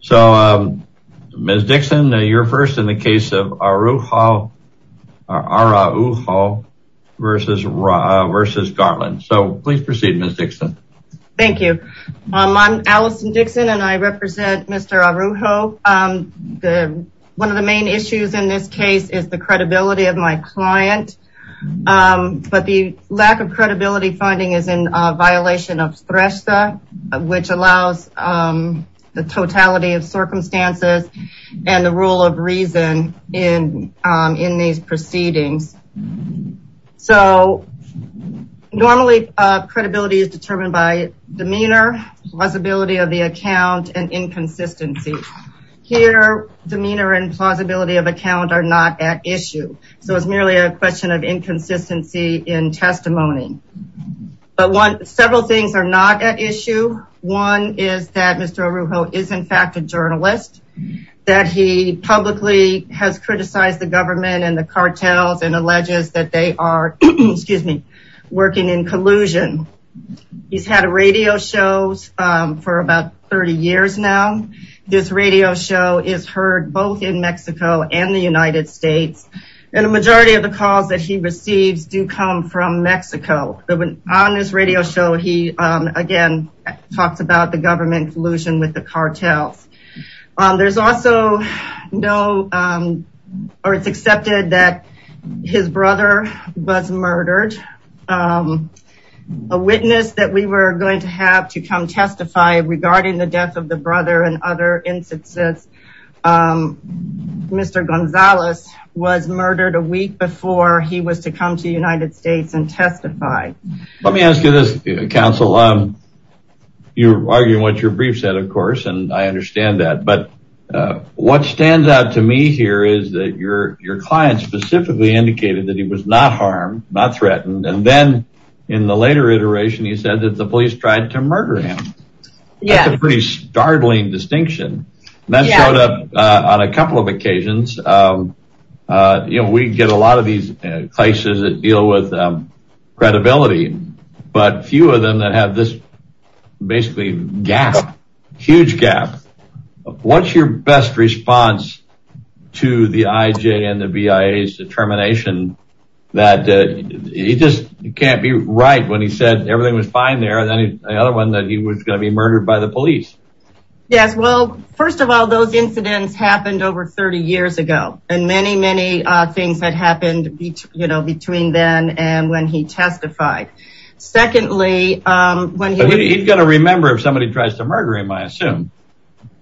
So, Ms. Dixon, you're first in the case of Araujo v. Garland. So, please proceed, Ms. Dixon. Thank you. I'm Allison Dixon and I represent Mr. Araujo. One of the main issues in this case is the credibility of my client. But the lack of credibility finding is in violation of STRESA, which allows the totality of circumstances and the rule of reason in these proceedings. So, normally credibility is determined by demeanor, plausibility of the account, and inconsistency. Here, demeanor and plausibility of account are not at issue. So, it's merely a question of inconsistency in testimony. But several things are not at issue. One is that Mr. Araujo is in fact a journalist, that he publicly has criticized the government and the cartels and alleges that they are working in collusion. He's had radio shows for about 30 years now. This radio show is heard both in Mexico and the United States. And the majority of the calls that he receives do come from Mexico. On this radio show, he again talks about the government collusion with the cartels. There's also no, or it's accepted that his brother was murdered. A witness that we were going to have to come testify regarding the death of the brother and other instances, Mr. Gonzales was murdered a week before he was to come to the United States and testify. Let me ask you this, counsel. You're arguing what your brief said, of course, and I understand that. But what stands out to me here is that your client specifically indicated that he was not harmed, not threatened, and then in the later iteration, he said that the police tried to murder him. That's a pretty startling distinction. That showed up on a couple of occasions. We get a lot of these cases that deal with credibility, but few of them that have this basically gap, huge gap. What's your best response to the IJ and the BIA's determination that he just can't be right when he said everything was fine there, and then the other one that he was going to be murdered by the police? Yes. Well, first of all, those incidents happened over 30 years ago, and many, many things had happened between then and when he testified. Secondly, when he... He's going to remember if somebody tries to murder him, I assume.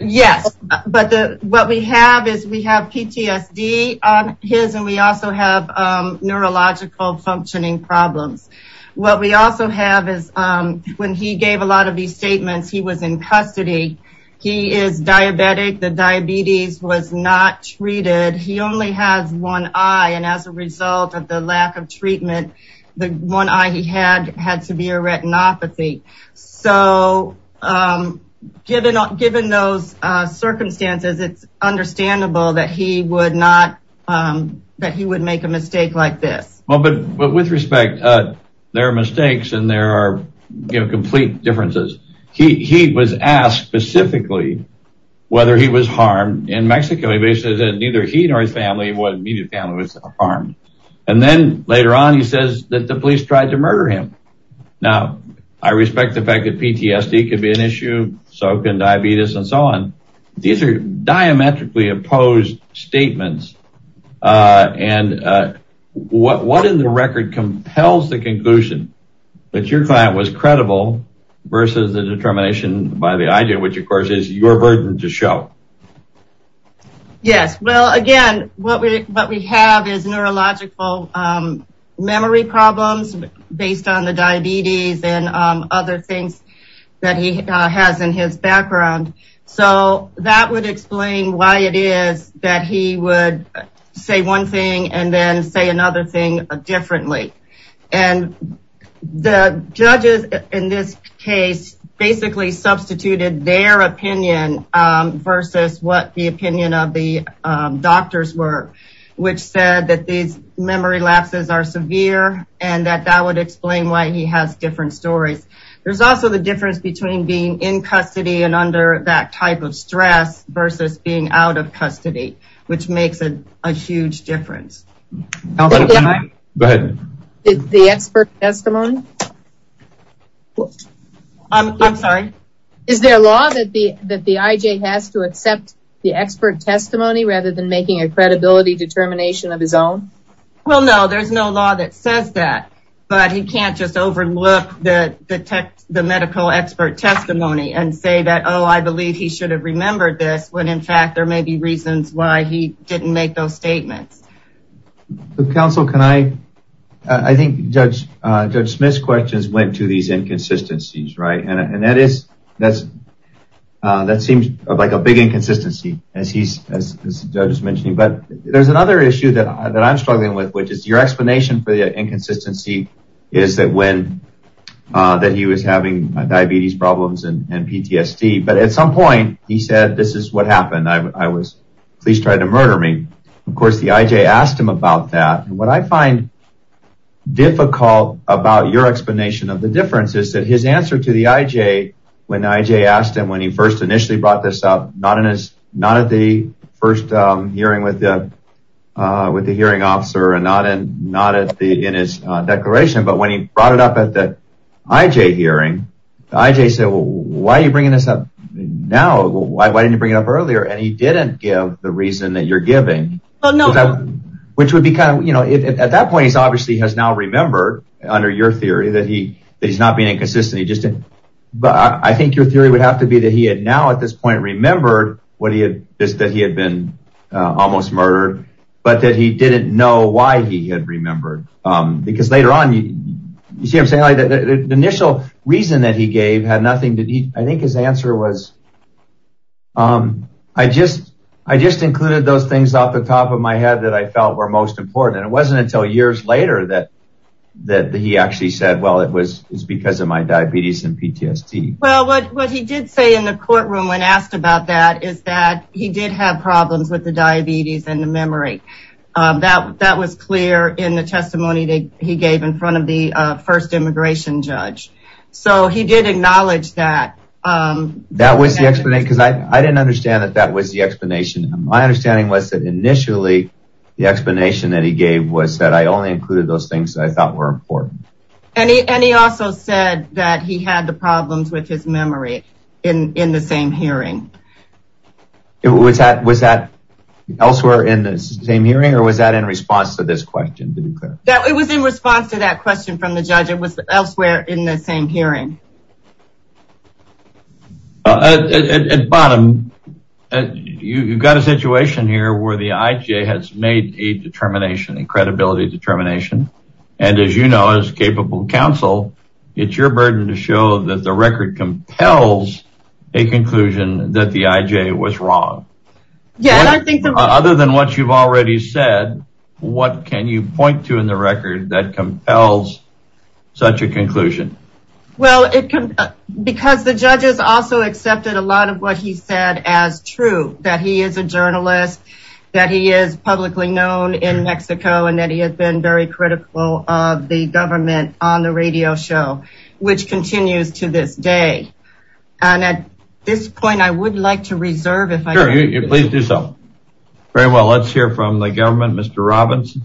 Yes. But what we have is we have PTSD on his, and we also have neurological functioning problems. What we also have is when he gave a lot of these statements, he was in custody. He is diabetic. The diabetes was not treated. He only has one eye, and as a result of the lack of treatment, the one eye he had had severe retinopathy. So, given those circumstances, it's understandable that he would make a mistake like this. Well, but with respect, there are mistakes, and there are complete differences. He was asked specifically whether he was harmed in Mexico. He basically said that neither he nor his immediate family was harmed, and then later on, he says that the police tried to murder him. Now, I respect the fact that PTSD could be an issue, so can diabetes and so on. These are diametrically opposed statements, and what in the record compels the conclusion that your client was credible versus the determination by the eye, which of course is your burden to show? Yes. Well, again, what we have is neurological memory problems based on the diabetes and other things that he has in his background. So, that would explain why it is that he would say one thing and then say another thing differently. And the judges in this case basically substituted their opinion versus what the opinion of the doctors were, which said that these memory lapses are severe and that that would explain why he has different stories. There's also the difference between being in custody and under that type of stress versus being out of custody, which makes a huge difference. Go ahead. The expert testimony? I'm sorry? Is there a law that the IJ has to accept the expert testimony rather than making a credibility determination of his own? Well, no, there's no law that says that, but he can't just overlook the medical expert testimony and say that, oh, I believe he should have remembered this, when in fact there may be reasons why he didn't make those statements. Counsel, can I? I think Judge Smith's questions went to these inconsistencies, right? And that seems like a big inconsistency, as the judge was mentioning, but there's another issue that I'm struggling with, which is your explanation for the inconsistency is that when he was having diabetes problems and PTSD, but at some point he said, this is what happened. I was, police tried to murder me. Of course, the IJ asked him about that, and what I find difficult about your explanation of the difference is that his answer to the IJ, when the IJ asked him when he first initially brought this up, not at the first hearing with the hearing officer and not in his declaration, but when he brought it up at the IJ hearing, the IJ said, well, why are you bringing this up now? Why didn't you bring it up earlier? And he didn't give the reason that you're giving, which would be kind of, you know, at that point, he's obviously has now remembered under your theory that he's not being inconsistent. But I think your theory would have to be that he had now at this point remembered what he had, that he had been almost murdered, but that he didn't know why he had remembered. Because later on, you see what I'm saying? The initial reason that he gave had nothing to do, I think his answer was, I just, I just included those things off the top of my head that I felt were most important. And it wasn't until years later that that he actually said, well, it was because of my diabetes and PTSD. Well, what he did say in the courtroom when asked about that is that he did have problems with the diabetes and the memory that that was clear in the testimony that he gave in front of the first immigration judge. So he did acknowledge that. That was the explanation, because I didn't understand that that was the explanation. My understanding was that initially, the explanation that he gave was that I only included those things that I thought were important. And he also said that he had the problems with his memory in the same hearing. Was that elsewhere in the same hearing or was that in response to this question? It was in response to that question from the judge. It was elsewhere in the same hearing. At bottom, you've got a situation here where the IJ has made a determination, a credibility determination. And as you know, as capable counsel, it's your burden to show that the record compels a conclusion that the IJ was wrong. Other than what you've already said, what can you point to in the record that compels such a conclusion? Well, because the judges also accepted a lot of what he said as true, that he is a journalist, that he is publicly known in Mexico, and that he has been very critical of the government on the radio show, which continues to this day. And at this point, I would like to reserve if I could. Please do so. Very well. Let's hear from the government, Mr. Robbins.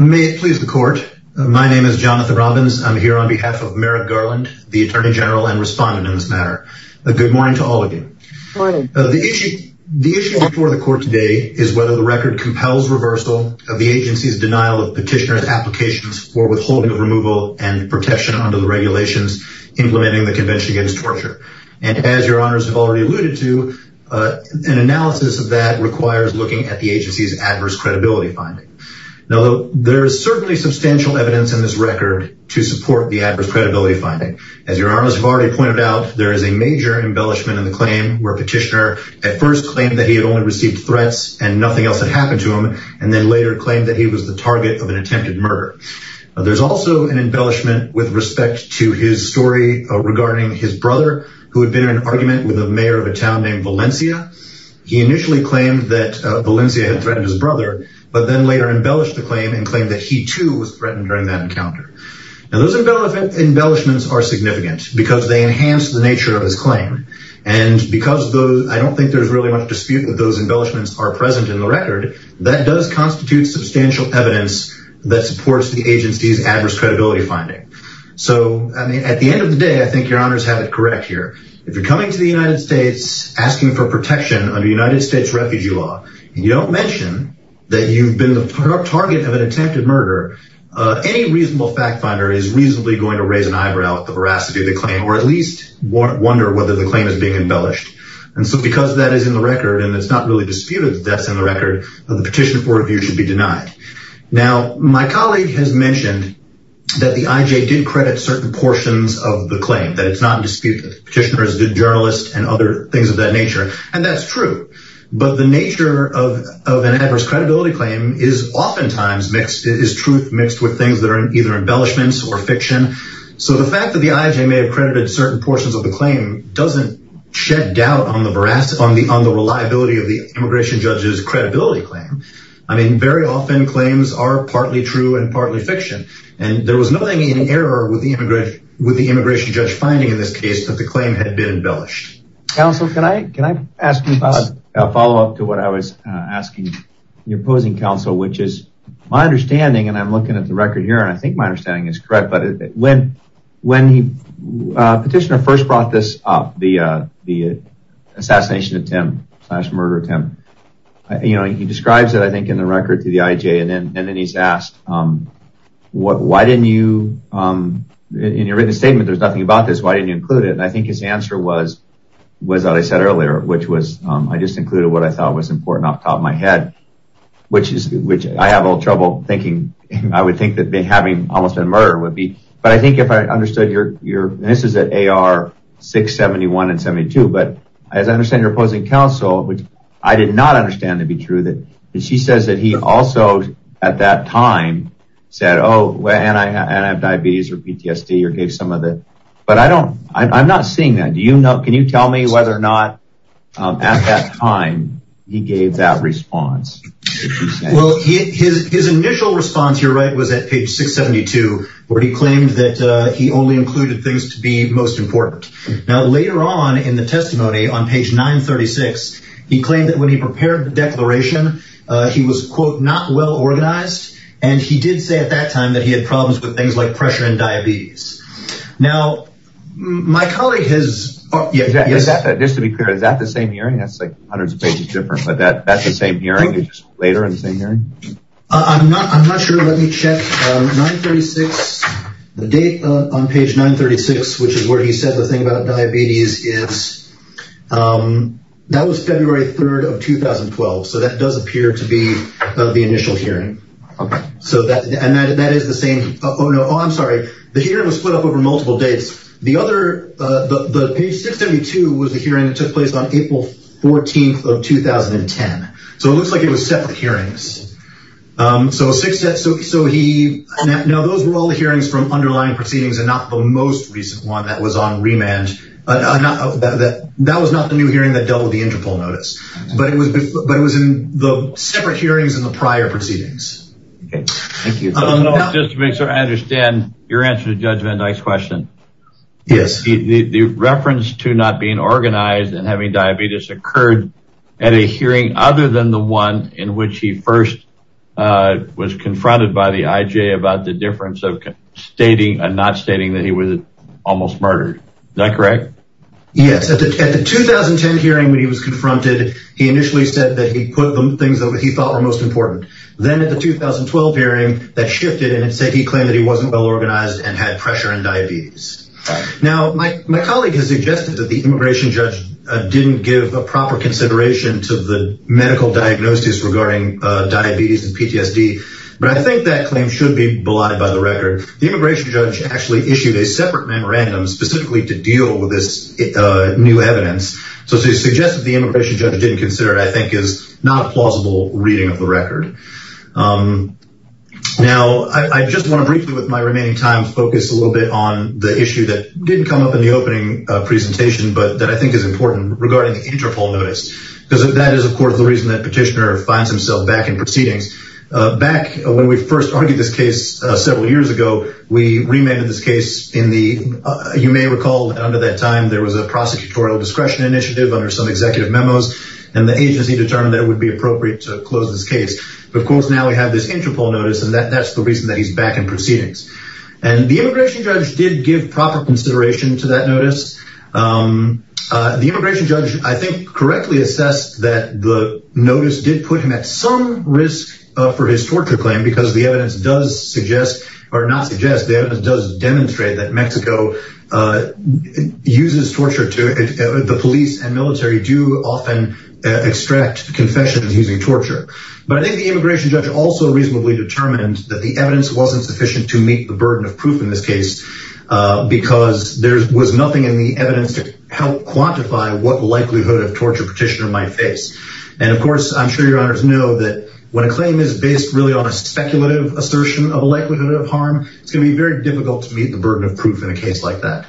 May it please the court. My name is Jonathan Robbins. I'm here on behalf of Merrick Garland, the attorney general and respondent in this matter. Good morning. The issue before the court today is whether the record compels reversal of the agency's denial of petitioner's applications for withholding of removal and protection under the regulations implementing the Convention Against Torture. And as your honors have already alluded to, an analysis of that requires looking at the agency's adverse credibility finding. Now, there is certainly substantial evidence in this record to support the adverse credibility finding. As your honors have already pointed out, there is a major embellishment in the claim where petitioner at first claimed that he had only received threats and nothing else had happened to him, and then later claimed that he was the target of an attempted murder. There's also an embellishment with respect to his story regarding his brother, who had been in an argument with the mayor of a town named Valencia. He initially claimed that Valencia had threatened his brother, but then later embellished the claim and claimed that he too was threatened during that encounter. Now, those embellishments are significant because they enhance the nature of his claim. And because I don't think there's really much dispute that those embellishments are present in the record, that does constitute substantial evidence that supports the agency's adverse credibility finding. So, I mean, at the end of the day, I think your honors have it correct here. If you're coming to the United States asking for protection under United States refugee law, and you don't mention that you've been the target of an attempted murder, any reasonable fact finder is reasonably going to raise an eyebrow at the veracity of the claim, or at least wonder whether the claim is being embellished. And so, because that is in the record and it's not really disputed that that's in the record, the petition for review should be denied. Now, my colleague has mentioned that the IJ did credit certain portions of the claim, that it's not disputed. Petitioners, journalists, and other things of that nature. And that's true. But the nature of an adverse credibility claim is oftentimes mixed. It is truth mixed with things that are either embellishments or fiction. So, the fact that the IJ may have credited certain portions of the claim doesn't shed doubt on the reliability of the immigration judge's credibility claim. I mean, very often claims are partly true and partly fiction. And there was nothing in error with the immigration judge finding in this case that the claim had been embellished. Counsel, can I ask a follow-up to what I was asking your opposing counsel, which is my understanding, and I'm looking at the record here, and I think my understanding is correct. But when the petitioner first brought this up, the assassination attempt slash murder attempt, you know, he describes it, I think, in the record to the IJ. And then he's asked, why didn't you, in your written statement, there's nothing about this, why didn't you include it? And I think his answer was what I said earlier, which was, I just included what I thought was important off the top of my head. Which is, which I have a little trouble thinking, I would think that having almost been murdered would be. But I think if I understood your, this is at AR 671 and 72, but as I understand your opposing counsel, which I did not understand to be true, that she says that he also, at that time, said, oh, and I have diabetes or PTSD or gave some of it. But I don't, I'm not seeing that. Do you know, can you tell me whether or not at that time he gave that response? Well, his initial response, you're right, was at page 672, where he claimed that he only included things to be most important. Now, later on in the testimony, on page 936, he claimed that when he prepared the declaration, he was, quote, not well organized. And he did say at that time that he had problems with things like pressure and diabetes. Now, my colleague has, just to be clear, is that the same hearing? That's like hundreds of pages different, but that's the same hearing later in the same hearing? I'm not, I'm not sure. Let me check. 936, the date on page 936, which is where he said the thing about diabetes is, that was February 3rd of 2012. So that does appear to be the initial hearing. So that, and that is the same. Oh, no, I'm sorry. The hearing was split up over multiple dates. The other, the page 672 was the hearing that took place on April 14th of 2010. So it looks like it was separate hearings. So six, so he, now those were all the hearings from underlying proceedings and not the most recent one that was on remand. That was not the new hearing that doubled the interpol notice. But it was, but it was in the separate hearings in the prior proceedings. Okay. Thank you. Just to make sure I understand your answer to Judge Van Dyke's question. Yes. The reference to not being organized and having diabetes occurred at a hearing other than the one in which he first was confronted by the IJ about the difference of stating and not stating that he was almost murdered. Is that correct? Yes. At the 2010 hearing when he was confronted, he initially said that he put the things that he thought were most important. Then at the 2012 hearing that shifted and it said he claimed that he wasn't well organized and had pressure and diabetes. Now, my colleague has suggested that the immigration judge didn't give a proper consideration to the medical diagnosis regarding diabetes and PTSD. But I think that claim should be belied by the record. The immigration judge actually issued a separate memorandum specifically to deal with this new evidence. So to suggest that the immigration judge didn't consider it, I think is not plausible reading of the record. Now, I just want to briefly with my remaining time focus a little bit on the issue that didn't come up in the opening presentation, but that I think is important regarding the interpol notice. Because that is, of course, the reason that petitioner finds himself back in proceedings. Back when we first argued this case several years ago, we remanded this case in the, you may recall under that time there was a prosecutorial discretion initiative under some executive memos and the agency determined that it would be appropriate to close this case. Of course, now we have this interpol notice and that's the reason that he's back in proceedings. And the immigration judge did give proper consideration to that notice. The immigration judge, I think, correctly assessed that the notice did put him at some risk for his torture claim because the evidence does suggest, or not suggest, the evidence does demonstrate that Mexico uses torture to, the police and military do often extract confessions using torture. But I think the immigration judge also reasonably determined that the evidence wasn't sufficient to meet the burden of proof in this case because there was nothing in the evidence to help quantify what likelihood of torture petitioner might face. And, of course, I'm sure your honors know that when a claim is based really on a speculative assertion of a likelihood of harm, it's going to be very difficult to meet the burden of proof in a case like that.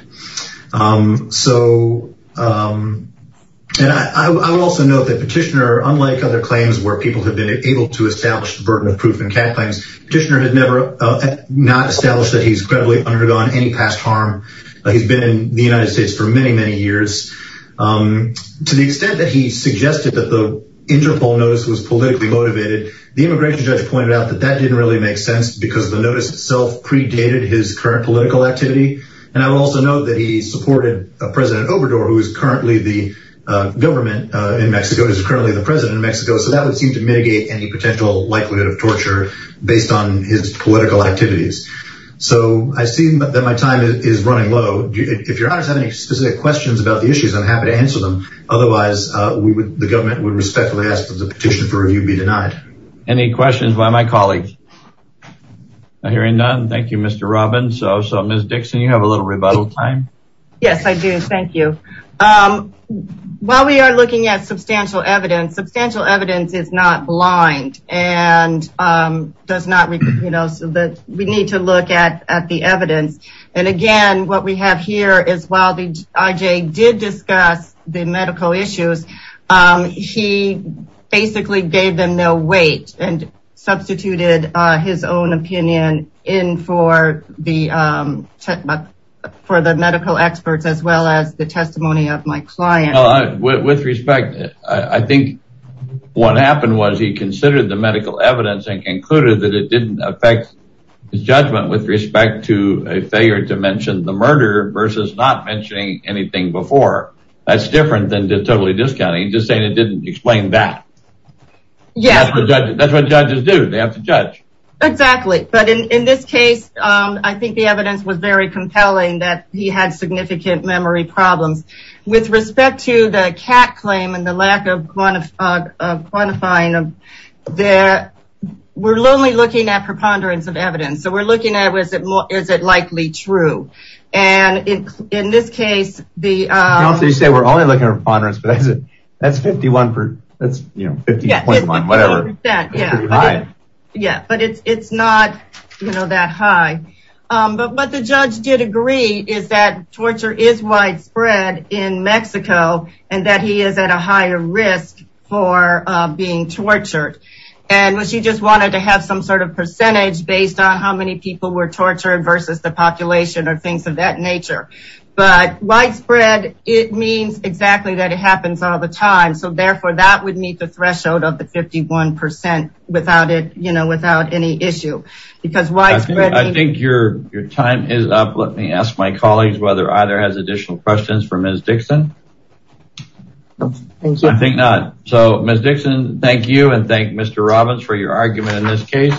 And I will also note that petitioner, unlike other claims where people have been able to establish the burden of proof in CAT claims, petitioner has not established that he's credibly undergone any past harm. He's been in the United States for many, many years. To the extent that he suggested that the interpol notice was politically motivated, the immigration judge pointed out that that didn't really make sense because the notice itself predated his current political activity. And I will also note that he supported President Obrador, who is currently the government in Mexico, so that would seem to mitigate any potential likelihood of torture based on his political activities. So I see that my time is running low. If your honors have any specific questions about the issues, I'm happy to answer them. Otherwise, the government would respectfully ask that the petition for review be denied. Any questions by my colleagues? I'm hearing none. Thank you, Mr. Robbins. So, Ms. Dixon, you have a little rebuttal time. Yes, I do. Thank you. While we are looking at substantial evidence, substantial evidence is not blind and we need to look at the evidence. And again, what we have here is while the IJ did discuss the medical issues, he basically gave them no weight and substituted his own opinion in for the medical experts as well as the testimony of my client. With respect, I think what happened was he considered the medical evidence and concluded that it didn't affect his judgment with respect to a failure to mention the murder versus not mentioning anything before. That's different than totally discounting, just saying it didn't explain that. Yes. That's what judges do. They have to judge. Exactly. But in this case, I think the evidence was very compelling that he had significant memory problems. With respect to the CAT claim and the lack of quantifying, we're only looking at preponderance of evidence. So, we're looking at is it likely true. And in this case, the… You say we're only looking at preponderance, but that's 51 percent. But it's not that high. But what the judge did agree is that torture is widespread in Mexico and that he is at a higher risk for being tortured. And she just wanted to have some sort of percentage based on how many people were tortured versus the population or things of that nature. But widespread, it means exactly that it happens all the time. So, therefore, that would meet the threshold of the 51 percent without any issue. Because widespread… I think your time is up. Let me ask my colleagues whether either has additional questions for Ms. Dixon. I think not. So, Ms. Dixon, thank you and thank Mr. Robbins for your argument in this case.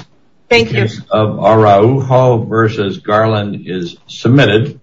Thank you. The case of Araujo versus Garland is submitted.